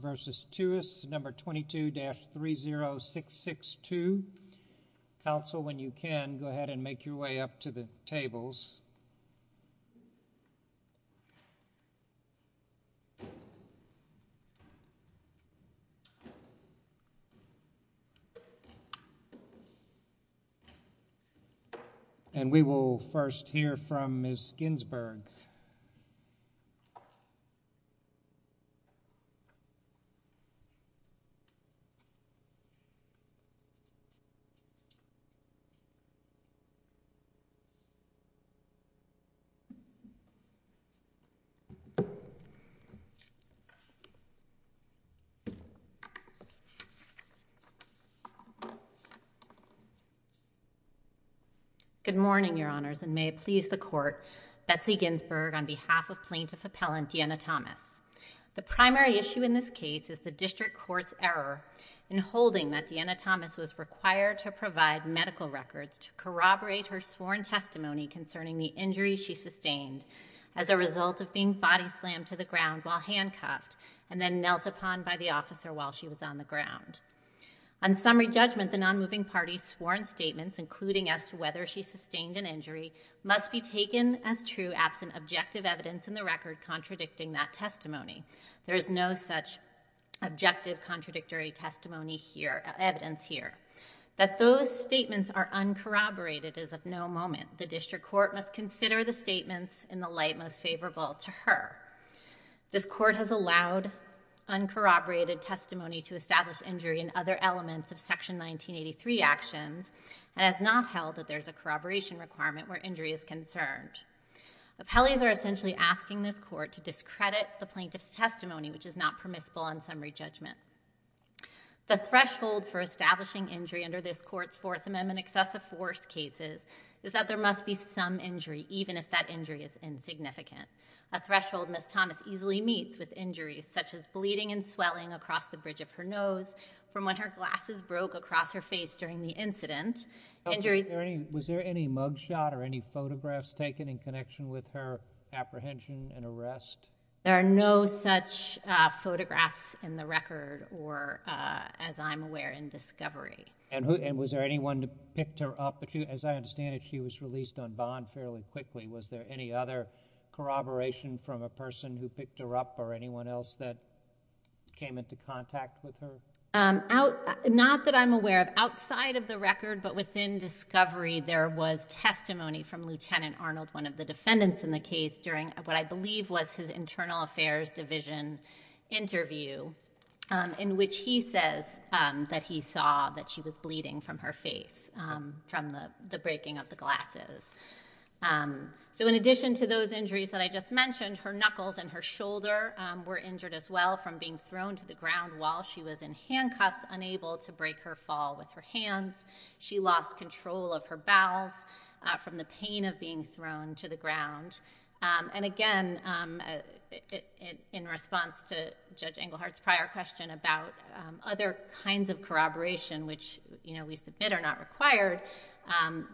v. Tewis, No. 22-30662. Council, when you can, go ahead and make your way up to the podium. Good morning, Your Honors, and may it please the Court, Betsy Ginsburg, on behalf of the Department of Justice. Good morning, everyone. My name is Betsy Ginsburg, and I'm the Chief Justice of the U.S. Supreme Court, and I'm here to talk to you today about the injury of the plaintiff's testimony. The plaintiff's testimony is of no moment. The District Court must consider the statements in the light most favorable to her. This Court has allowed uncorroborated testimony to establish injury in other elements of Section 1983 actions and has not held that there's a corroboration requirement where injury is concerned. Appellees are essentially asking this Court to discredit the plaintiff's testimony, which is not permissible on summary judgment. The threshold for establishing injury under this Court's Fourth Amendment Excessive Force cases is that there must be some injury, even if that injury is insignificant. A threshold Ms. Thomas easily meets with injuries such as bleeding and swelling across the bridge of her nose from when her glasses broke across her face during the incident. Was there any mugshot or any photographs taken in connection with her apprehension and arrest? There are no such photographs in the record or, as I'm aware, in discovery. And was there anyone who picked her up? As I understand it, she was released on bond fairly quickly. Was there any other corroboration from a person who picked her up or anyone else that came into contact with her? Not that I'm aware of. Outside of the record, but within discovery, there was testimony from Lieutenant Arnold, one of the defendants in the case, during what I believe was his Internal Affairs Division interview, in which he says that he saw that she was bleeding from her face from the breaking of the glasses. So in addition to those injuries that I just mentioned, her knuckles and her shoulder were injured as well from being thrown to the ground while she was in handcuffs, unable to break her fall with her hands. She lost control of her bowels from the pain of being thrown to the ground. And again, in response to Judge Englehart's prior question about other kinds of corroboration, which we submit are not required,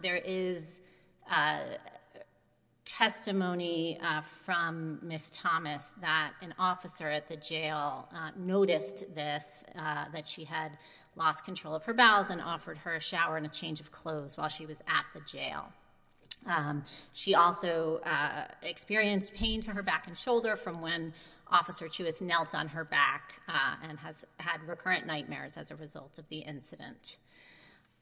there is testimony from Ms. Thomas that an officer at the jail noticed this, that she had lost control of her bowels and offered her a shower and a change of clothes while she was at the jail. She also experienced pain to her back and shoulder from when Officer Chew has knelt on her back and has had recurrent nightmares as a result of the incident.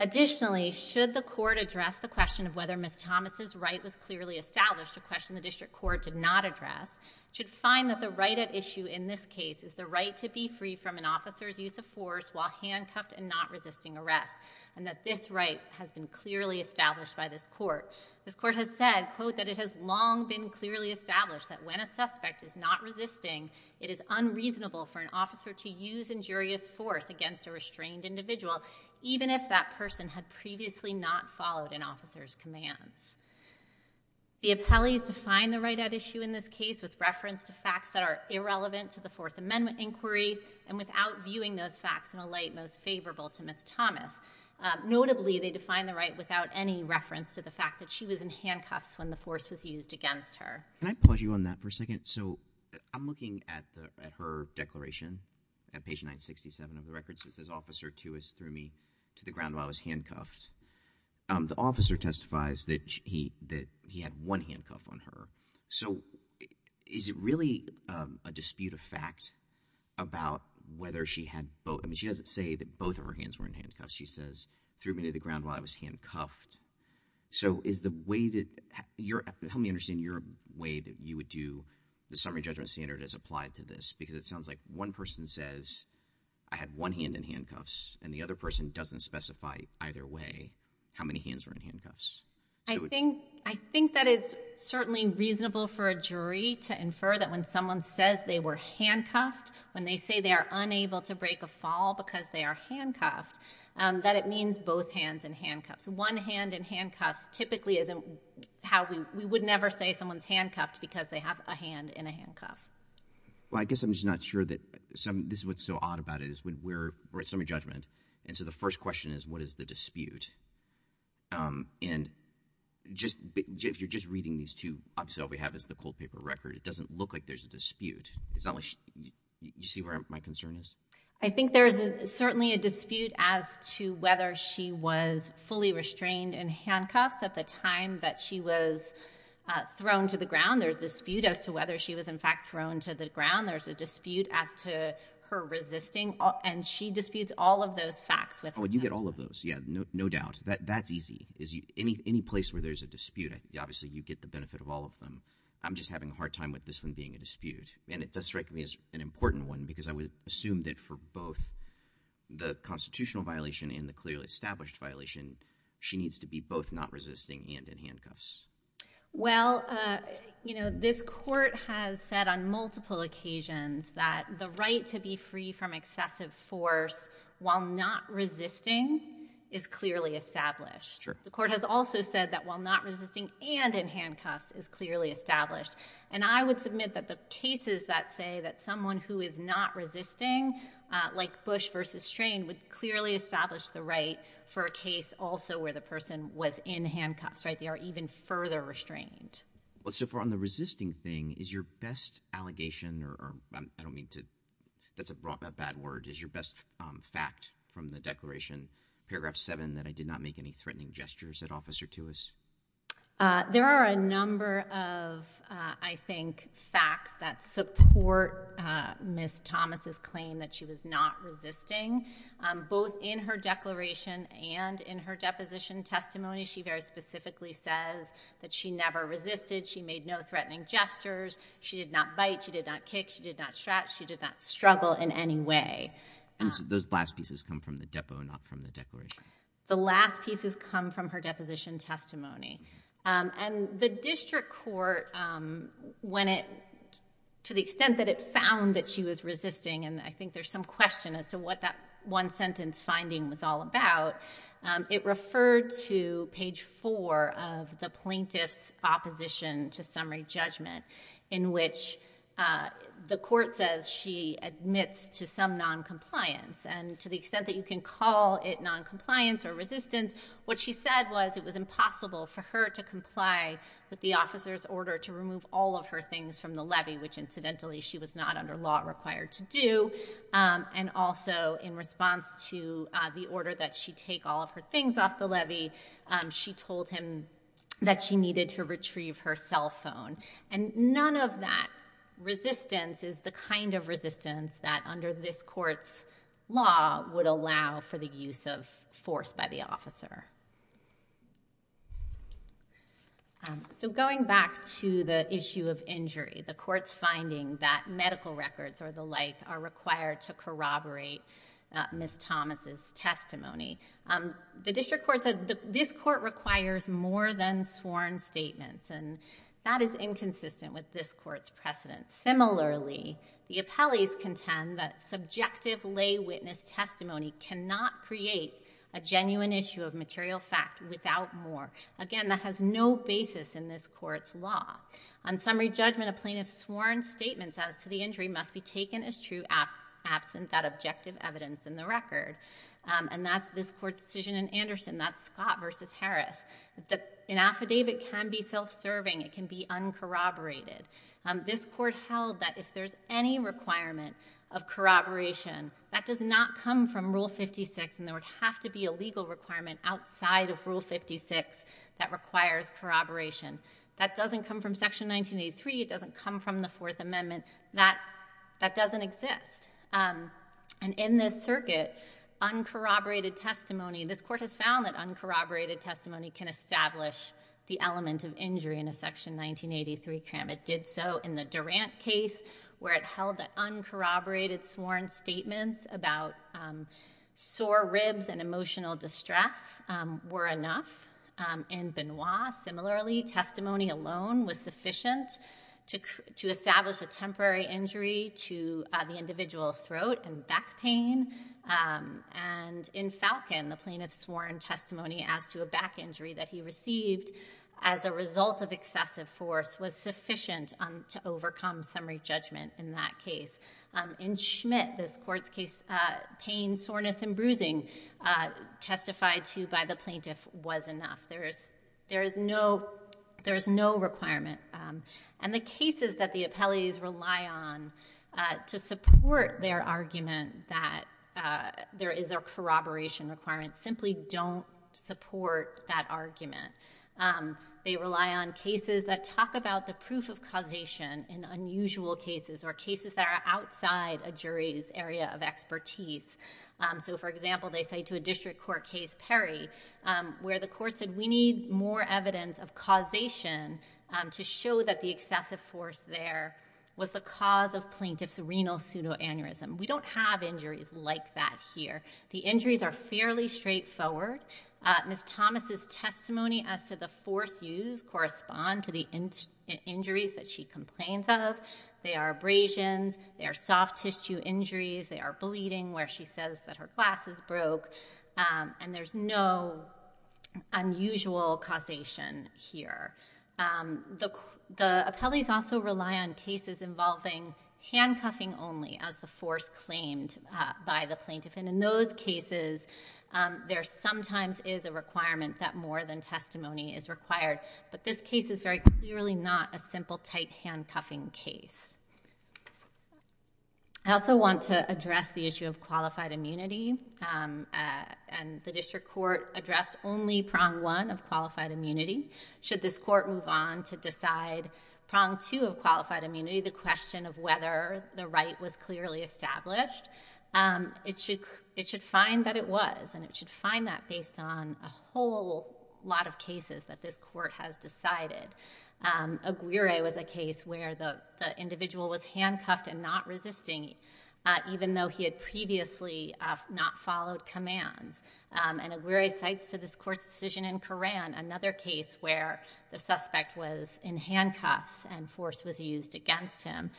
Additionally, should the court address the question of whether Ms. Thomas' right was clearly established, a question the district court did not address, should find that the right at issue in this case is the right to be free from an officer's use of force while handcuffed and not resisting arrest, and that this right has been clearly established by this court. This court has said, quote, that it has long been clearly established that when a suspect is not resisting, it is unreasonable for an officer to use injurious force against a restrained individual, even if that person had previously not followed an officer's commands. The appellees define the right at issue in this case with reference to facts that are irrelevant to the Fourth Amendment inquiry and without viewing those facts in a light most favorable to Ms. Thomas. Notably, they define the right without any reference to the fact that she was in handcuffs when the force was used against her. Can I pause you on that for a second? So I'm looking at her declaration at page 967 of was handcuffed. The officer testifies that he had one handcuff on her. So is it really a dispute of fact about whether she had both? I mean, she doesn't say that both of her hands were in handcuffs. She says, threw me to the ground while I was handcuffed. So is the way that you're helping me understand your way that you would do the summary judgment standard as applied to this? Because it sounds like one person says I had one hand in handcuffs and the other person doesn't specify either way how many hands were in handcuffs. I think that it's certainly reasonable for a jury to infer that when someone says they were handcuffed, when they say they are unable to break a fall because they are handcuffed, that it means both hands in handcuffs. One hand in handcuffs typically isn't how we would never say someone's handcuffed because they have a hand in a handcuff. Well, I guess I'm just not sure that this is what's so odd about it is when we're at summary judgment. And so the first question is, what is the dispute? And if you're just reading these two, obviously all we have is the cold paper record. It doesn't look like there's a dispute. You see where my concern is? I think there is certainly a dispute as to whether she was fully restrained in handcuffs at the time that she was thrown to the ground. There's a dispute as to whether she was in handcuffs when she was thrown to the ground. There's a dispute as to her resisting. And she disputes all of those facts with them. Oh, you get all of those. Yeah, no doubt. That's easy. Any place where there's a dispute, obviously you get the benefit of all of them. I'm just having a hard time with this one being a dispute. And it does strike me as an important one because I would assume that for both the constitutional violation and the clearly established violation, she needs to be both not resisting and in handcuffs. Well, this court has said on multiple occasions that the right to be free from excessive force while not resisting is clearly established. The court has also said that while not resisting and in handcuffs is clearly established. And I would submit that the cases that say that someone who is not resisting, like Bush versus Strain, would clearly establish the right for a case also where the person was in handcuffs, right? They are even further restrained. Well, so far on the resisting thing, is your best allegation or I don't mean to, that's a bad word, is your best fact from the declaration, paragraph seven, that I did not make any threatening gestures at Officer Tuis? There are a number of, I think, facts that support Ms. Thomas's claim that she was not resisting in her declaration and in her deposition testimony. She very specifically says that she never resisted. She made no threatening gestures. She did not bite. She did not kick. She did not strut. She did not struggle in any way. Those last pieces come from the depo, not from the declaration? The last pieces come from her deposition testimony. And the district court, when it, to the extent that it found that she was resisting, and I think there's some question as to what that one sentence finding was all about, it referred to page four of the plaintiff's opposition to summary judgment in which the court says she admits to some noncompliance. And to the extent that you can call it noncompliance or resistance, what she said was it was impossible for her to comply with the officer's order to remove all of her things from the levy, which incidentally she was not under law required to do. And also in response to the order that she take all of her things off the levy, she told him that she needed to retrieve her cell phone. And none of that resistance is the kind of resistance that under this court's law would allow for the use of force by the officer. So going back to the issue of injury, the court's finding that medical records or the like are required to corroborate Ms. Thomas' testimony. The district court said this court requires more than sworn statements, and that is inconsistent with this court's precedence. Similarly, the appellees contend that subjective lay witness testimony cannot create a genuine issue of material fact without more. Again, that has no basis in this court's law. On summary judgment, a plaintiff's sworn statements as to the injury must be taken as true absent that objective evidence in the record. And that's this court's decision in Anderson. That's Scott versus Harris. An affidavit can be self-serving. It can be uncorroborated. This court held that if there's any requirement of corroboration, that does not come from Rule 56, and there would have to be a legal requirement outside of Rule 56 that requires corroboration. That doesn't come from Section 1983. It doesn't come from the Fourth Amendment. That doesn't exist. And in this circuit, uncorroborated testimony, this court has found that uncorroborated testimony can establish the element of injury in a Section 1983 crime. It did so in the case of Falken. Uncorroborated sworn statements about sore ribs and emotional distress were enough in Benoit. Similarly, testimony alone was sufficient to establish a temporary injury to the individual's throat and back pain. And in Falken, the plaintiff's sworn testimony as to a back injury that he received as a result of excessive force was sufficient to establish a temporary injury. In Schmidt, this court's case, pain, soreness, and bruising testified to by the plaintiff was enough. There is no requirement. And the cases that the appellees rely on to support their argument that there is a corroboration requirement simply don't support that argument. They rely on cases that talk about the proof of causation in unusual cases or cases that are outside a jury's area of expertise. So for example, they say to a district court case, Perry, where the court said, we need more evidence of causation to show that the excessive force there was the cause of plaintiff's renal pseudo-aneurysm. We don't have injuries like that here. The injuries are fairly straightforward. Ms. Thomas's claims of, they are abrasions, they are soft tissue injuries, they are bleeding where she says that her glasses broke. And there's no unusual causation here. The appellees also rely on cases involving handcuffing only as the force claimed by the plaintiff. And in those cases, there sometimes is a requirement that more than testimony is required. But this case is very clearly not a simple tight handcuffing case. I also want to address the issue of qualified immunity. And the district court addressed only prong one of qualified immunity. Should this court move on to decide prong two of qualified immunity, the question of whether the right was clearly established, it should find that it was. And it should find that based on a whole lot of cases that this court has decided. Aguirre was a case where the individual was handcuffed and not resisting even though he had previously not followed commands. And Aguirre cites to this court's decision in Curran another case where the suspect was in handcuffs and force was used against him.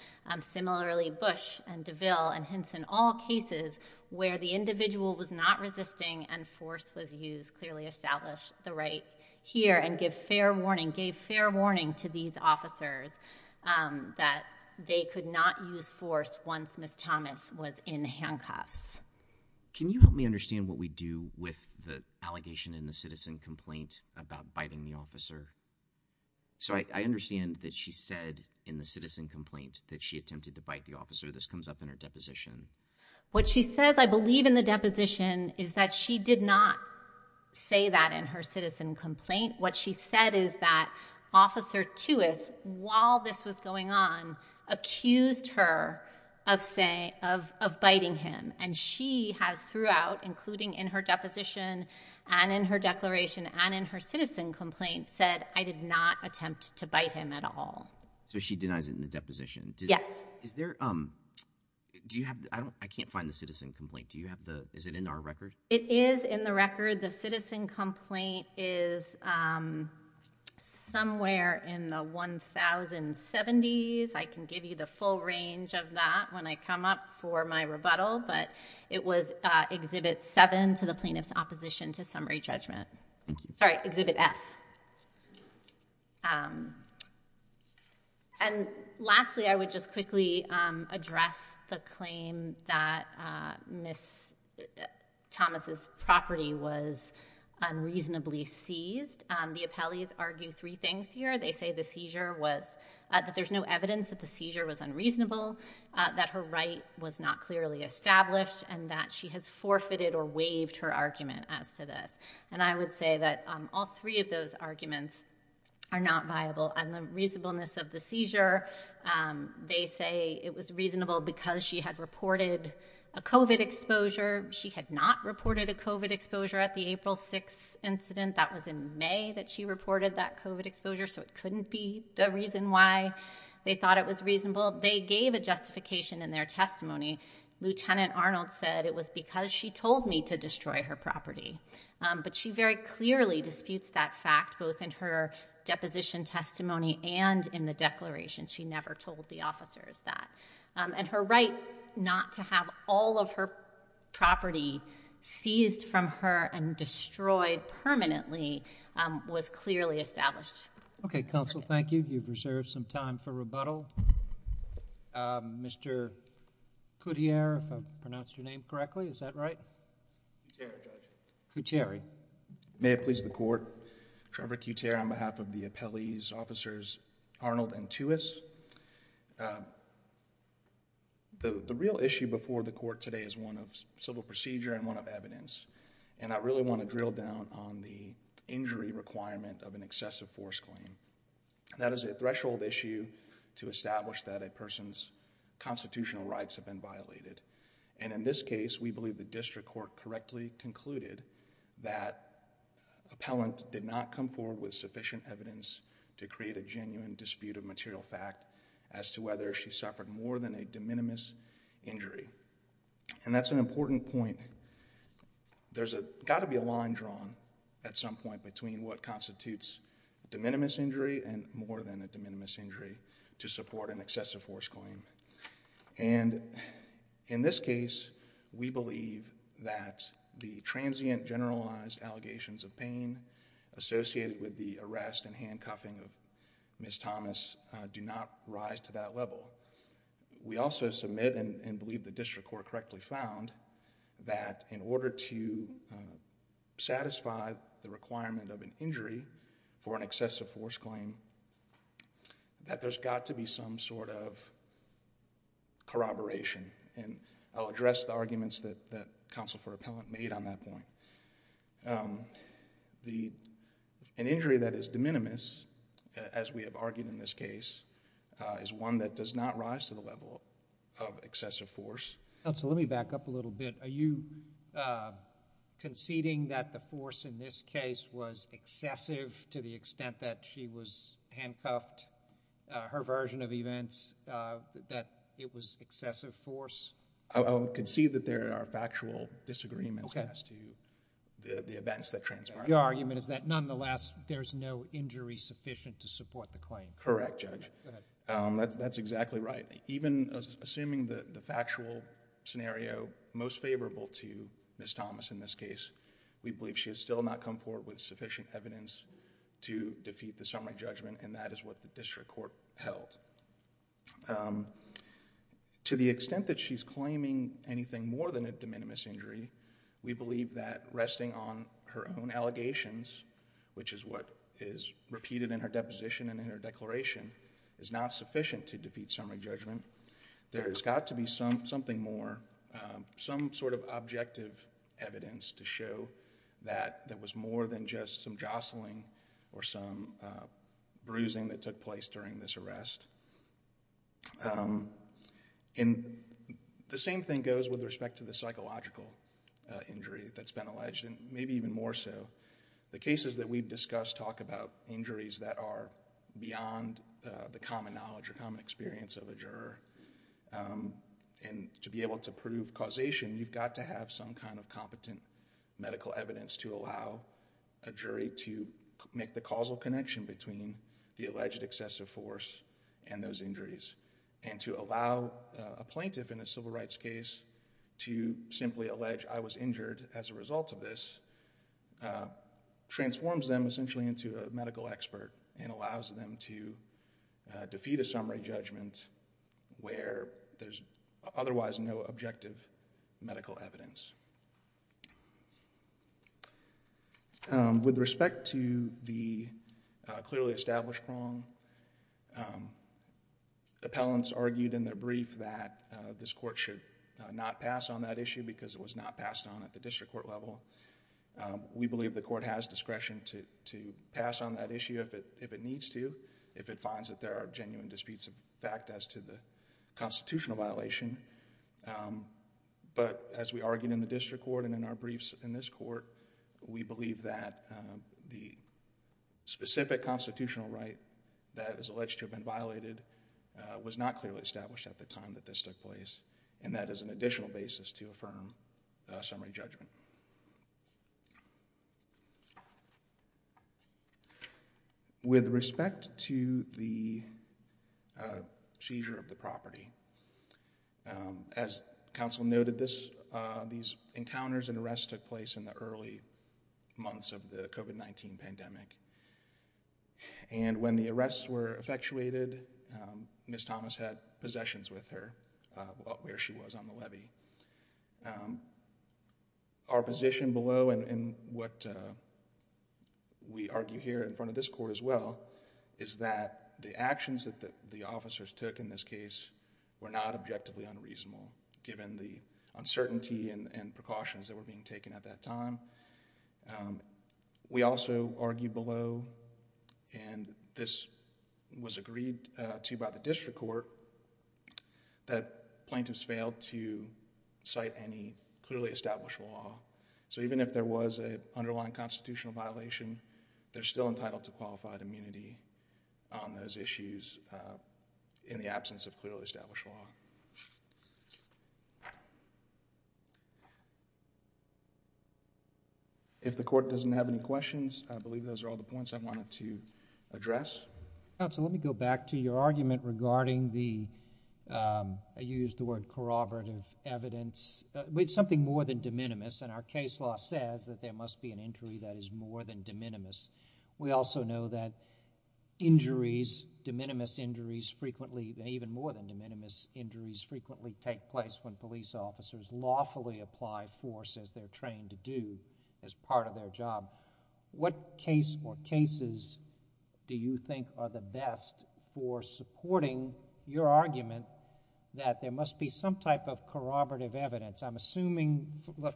Similarly, Bush and DeVille and hence in all cases where the individual was not resisting and force was used clearly established the right here and gave fair warning to these officers that they could not use force once Ms. Thomas was in handcuffs. Can you help me understand what we do with the allegation in the citizen complaint about biting the officer? So I understand that she said in the citizen complaint that she attempted to bite the officer. This comes up in her deposition. What she says, I believe in the deposition, is that she did not say that in her citizen complaint. What she said is that Officer Tuist, while this was going on, accused her of biting him. And she has throughout, including in her deposition and in her declaration and in her citizen complaint, said, I did not attempt to bite him at all. So she denies it in the deposition. Yes. Is there, do you have, I can't find the citizen complaint. Do you have the, is it in our record? It is in the record. The citizen complaint is somewhere in the 1070s. I can give you the full range of that when I come up for my rebuttal. But it was Exhibit 7 to the Plaintiff's Opposition to Summary Judgment. Sorry, Exhibit F. And lastly, I would just quickly address the claim that Ms. Thomas' property was unreasonably seized. The appellees argue three things here. They say the seizure was, that there's no evidence that the seizure was unreasonable, that her right was not clearly established, and that she has forfeited or waived her argument as to this. And I would say that all three of those arguments are not viable. And the reasonableness of the seizure, they say it was reasonable because she had reported a COVID exposure. She had not reported a COVID exposure at the April 6th incident. That was in May that she reported that COVID exposure. So it couldn't be the reason why they thought it was reasonable. They gave a justification in their testimony. Lieutenant Arnold said it was because she told me to destroy her property. That's a fact, both in her deposition testimony and in the declaration. She never told the officers that. And her right not to have all of her property seized from her and destroyed permanently was clearly established. Okay, counsel, thank you. You've reserved some time for rebuttal. Mr. Couture, if I pronounced your name correctly, is that right? Couture, Judge. Couture. I'm sorry. May it please the court, Trevor Couture on behalf of the appellees, officers Arnold and Tuis. The real issue before the court today is one of civil procedure and one of evidence. And I really want to drill down on the injury requirement of an excessive force claim. That is a threshold issue to establish that a person's constitutional rights have been violated. And in this case, we believe the district court correctly concluded that appellant did not come forward with sufficient evidence to create a genuine dispute of material fact as to whether she suffered more than a de minimis injury. And that's an important point. There's got to be a line drawn at some point between what constitutes de minimis injury and more than a de minimis injury to support an excessive force claim. And in this case, we believe that the transient generalized allegations of pain associated with the arrest and handcuffing of Ms. Thomas do not rise to that level. We also submit and believe the district court correctly found that in order to satisfy the requirement of an injury for an excessive force claim, that there's got to be some sort of corroboration. And I'll address the arguments that counsel for appellant made on that point. An injury that is de minimis, as we have argued in this case, is one that does not rise to the level of excessive force. Counsel, let me back up a little bit. Are you conceding that the force in this case was excessive to the extent that she was handcuffed, her version of events, that it was excessive force? I would concede that there are factual disagreements as to the events that transpired. Your argument is that nonetheless, there's no injury sufficient to support the claim? Correct, Judge. That's exactly right. Even assuming the factual scenario most favorable to Ms. Thomas in this case, we believe she has still not come forward with sufficient evidence to defeat the summary judgment and that is what the district court held. To the extent that she's claiming anything more than a de minimis injury, we believe that resting on her own allegations, which is what is repeated in her deposition and in her declaration, is not sufficient to defeat summary judgment. There has got to be something more, some sort of objective evidence to show that there was more than just some jostling or some bruising that took place during this arrest. The same thing goes with respect to the psychological injury that's been alleged and maybe even more so. The cases that we've discussed talk about injuries that are beyond the common knowledge or common experience of a juror. To be able to prove causation, you've got to have some kind of competent medical evidence to allow a jury to make the causal connection between the alleged excessive force and those injuries and to allow a plaintiff in a civil case, transforms them essentially into a medical expert and allows them to defeat a summary judgment where there's otherwise no objective medical evidence. With respect to the clearly established wrong, appellants argued in their brief that this we believe the court has discretion to pass on that issue if it needs to, if it finds that there are genuine disputes of fact as to the constitutional violation, but as we argued in the district court and in our briefs in this court, we believe that the specific constitutional right that is alleged to have been violated was not clearly established at the time that this took place and that is an additional basis to affirm summary judgment. With respect to the seizure of the property, as counsel noted, these encounters and arrests took place in the early months of the COVID-19 pandemic and when the arrests were effectuated, Ms. Thomas had possessions with her where she was on the levy. Our position below and what we argue here in front of this court as well is that the actions that the officers took in this case were not objectively unreasonable given the uncertainty and precautions that were being taken at that time. We also argue below and this was agreed to by the district court that plaintiffs failed to cite any clearly established law. Even if there was an underlying constitutional violation, they're still entitled to qualified immunity on those issues in the absence of a warrant. If the court doesn't have any questions, I believe those are all the points I wanted to address. Counsel, let me go back to your argument regarding the, you used the word corroborative evidence, something more than de minimis and our case law says that there must be an injury that is more than de minimis. We also know that injuries, de minimis injuries frequently, even more than de minimis injuries frequently take place when police officers lawfully apply force as they're trained to do as part of their job. What case or cases do you think are the best for supporting your argument that there must be some type of corroborative evidence? I'm assuming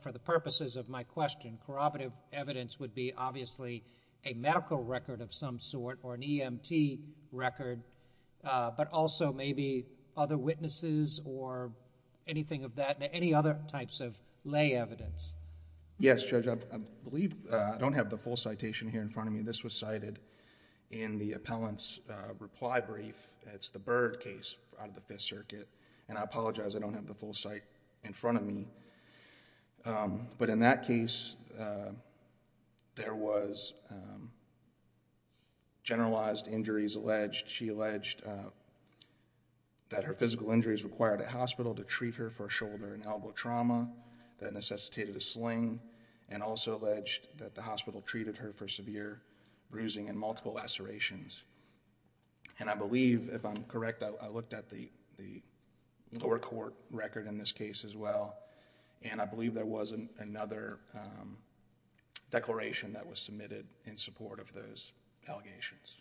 for the purposes of my question, corroborative evidence would be obviously a medical record of some sort or an EMT record, but also maybe other witnesses or anything of that, any other types of lay evidence. Yes, Judge. I believe, I don't have the full citation here in front of me. This was cited in the appellant's reply brief. It's the Byrd case out of the Fifth Circuit and I apologize I don't have the full cite in front of me, but in that case there was generalized injuries alleged. She alleged that her physical injuries required a hospital to treat her for shoulder and elbow trauma that necessitated a sling and also alleged that the hospital treated her for severe bruising and multiple lacerations. I believe, if I'm correct, I looked at the lower court record in this case as well and I believe there was another declaration that was in support of those allegations.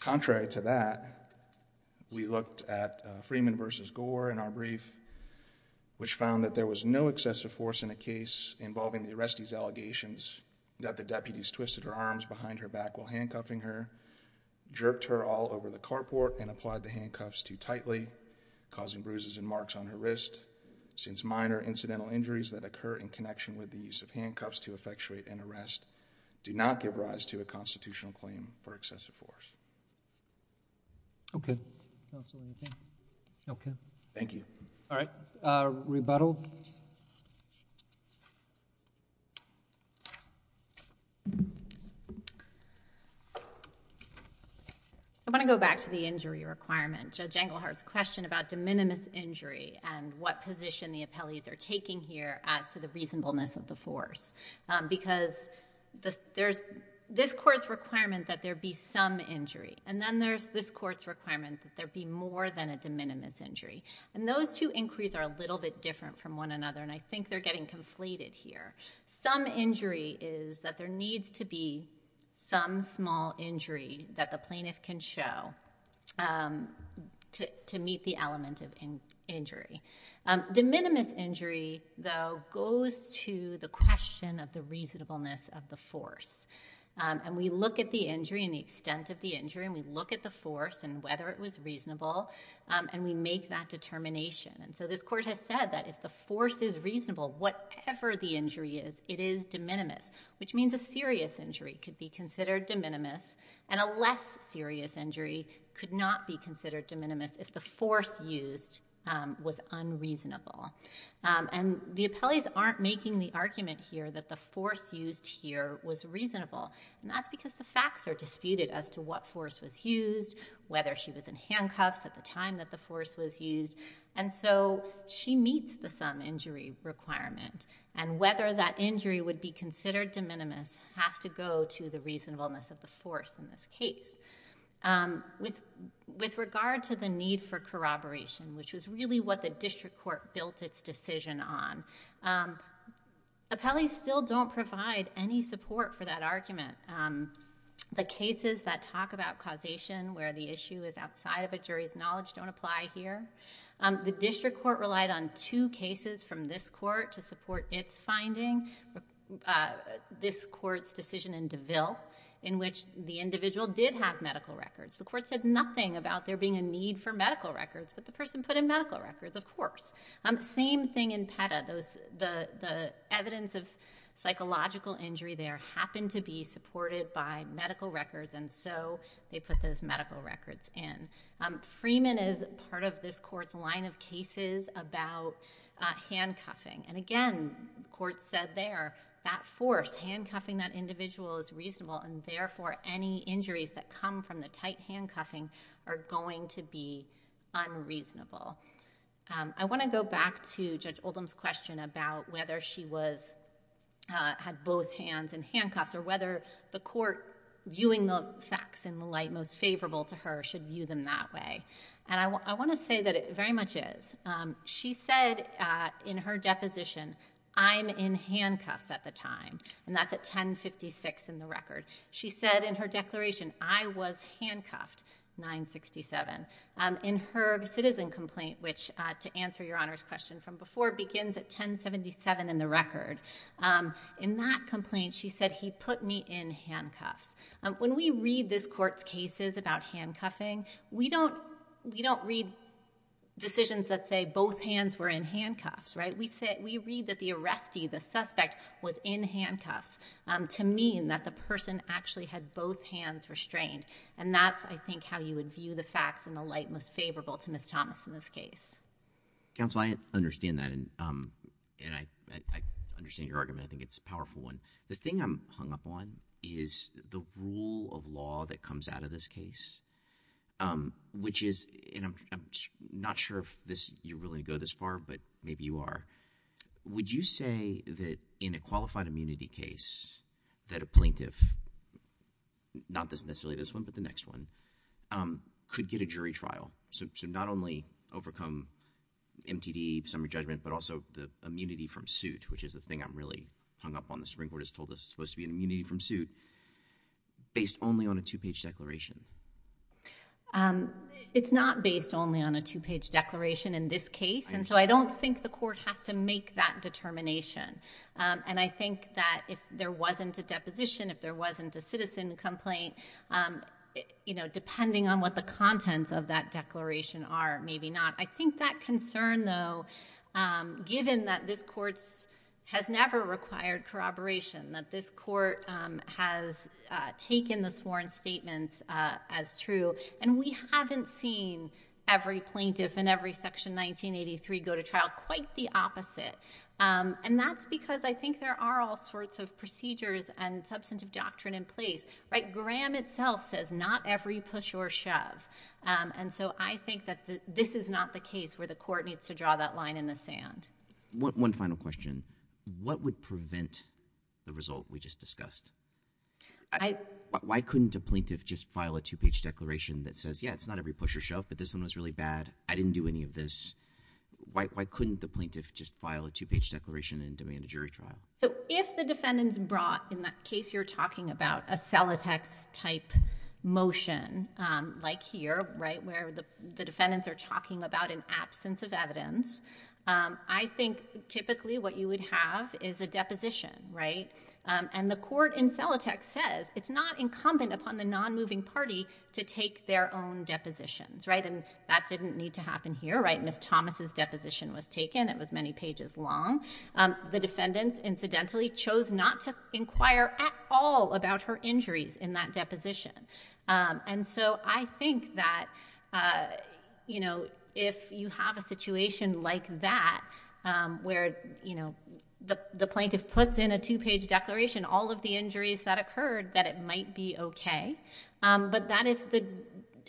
Contrary to that, we looked at Freeman v. Gore in our brief which found that there was no excessive force in a case involving the arrestee's allegations that the deputies twisted her arms behind her back while handcuffing her, jerked her all over the carport and applied the handcuffs too tightly, causing bruises and marks on her wrist. Since minor incidental injuries that occur in connection with the use of handcuffs to effectuate an arrest do not give rise to a constitutional claim for excessive force. Thank you. All right. Rebuttal. I want to go back to the injury requirement. Judge Engelhardt's question about de minimis injury and what position the appellees are taking here as to the reasonableness of the force because there's this court's requirement that there be some injury and then there's this court's requirement that there be more than a de minimis injury. Those two inquiries are a little bit different from one another and I think they're getting conflated here. Some injury is that there needs to be some small injury that the plaintiff can show to meet the element of injury. De minimis injury, though, goes to the question of the reasonableness of the force. We look at the injury and the extent of the injury and we look at the force and whether it was reasonable and we make that determination. This court has said that if the force is reasonable, whatever the injury is, it is de minimis, which means a serious injury could be considered de minimis and a less serious injury could not be considered de minimis if the force used was unreasonable. And the appellees aren't making the argument here that the force used here was reasonable and that's because the facts are disputed as to what force was used, whether she was in handcuffs at the time that the force was used, and so she meets the sum injury requirement and whether that injury would be considered de minimis has to go to the reasonableness of the force in this case. With regard to the need for corroboration, which was really what the district court built its decision on, appellees still don't provide any support for that argument. The cases that talk about causation where the issue is outside of a jury's knowledge don't apply here. The district court relied on two cases from this court to support its finding. This court's decision in DeVille in which the individual did have medical records. The court said nothing about there being a need for medical records, but the person put in medical records, of course. Same thing in PETA. The evidence of psychological injury there happened to be supported by medical records and so they put those medical records in. Freeman is part of this court's line of cases about handcuffing. Again, the court said there, that force, handcuffing that individual is reasonable and therefore any injuries that come from the tight handcuffing are going to be unreasonable. I want to go back to Judge Oldham's question about whether she had both hands in handcuffs or whether the court viewing the facts in the light most favorable to her should view them that way. I want to say that it very much is. She said in her deposition, I'm in handcuffs at the time. That's at 1056 in the record. She said in her declaration, I was handcuffed, 967. In her citizen complaint, which to answer your Honor's question from before begins at 1077 in the record, in that complaint she said he put me in handcuffs. When we read this court's cases about handcuffing, we don't read decisions that say both hands were in handcuffs. We read that the arrestee, the suspect, was in handcuffs to mean that the person actually had both hands restrained. That's, I think, how you would view the facts in the light most favorable to Ms. Thomas in this case. Counsel, I understand that and I understand your argument. I think it's a powerful one. The thing I'm hung up on is the rule of law that comes out of this case, which is, and I'm not sure if you're willing to go this far, but maybe you are. Would you say that in a qualified immunity case that a plaintiff, not necessarily this one, but the next one, could get a jury trial, so not only overcome MTD, summary judgment, but also the immunity from suit, which is the thing I'm really hung up on. The Supreme Court has told us it's supposed to be an immunity from suit, based only on a two-page declaration. It's not based only on a two-page declaration in this case, and so I don't think the court has to make that determination. I think that if there wasn't a deposition, if there wasn't a citizen complaint, depending on what the contents of that declaration are, maybe not. I think that concern, though, given that this court has never required corroboration, that this court has taken the sworn statements as true, and we haven't seen every plaintiff in every section 1983 go to trial, quite the opposite. That's because I think there are all sorts of procedures and substantive doctrine in place. Graham itself says, not every push or shove, and so I think that this is not the case where the court needs to draw that line in the sand. One final question. What would prevent the result we just discussed? Why couldn't a plaintiff just file a two-page declaration that says, yeah, it's not every push or shove, but this one was really bad. I didn't do any of this. Why couldn't the plaintiff just file a two-page declaration and demand a jury trial? If the defendants brought, in that case you're talking about, a Celotex-type motion, like here, where the defendants are talking about an absence of evidence, I think typically what you would have is a deposition. The court in Celotex says it's not incumbent upon the non-moving party to take their own depositions. That didn't need to happen here. Ms. Thomas's case, incidentally, chose not to inquire at all about her injuries in that deposition, and so I think that if you have a situation like that, where the plaintiff puts in a two-page declaration all of the injuries that occurred, that it might be okay, but that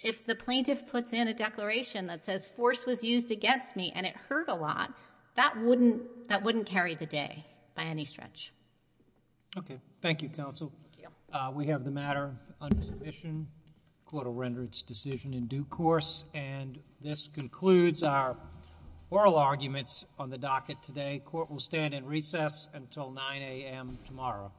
if the plaintiff puts in a declaration that says force was used against me and it hurt a lot, that wouldn't carry the day by any stretch. Okay. Thank you, counsel. We have the matter under submission. The court will render its decision in due course, and this concludes our oral arguments on the docket today. The court will stand in recess until 9 a.m. tomorrow.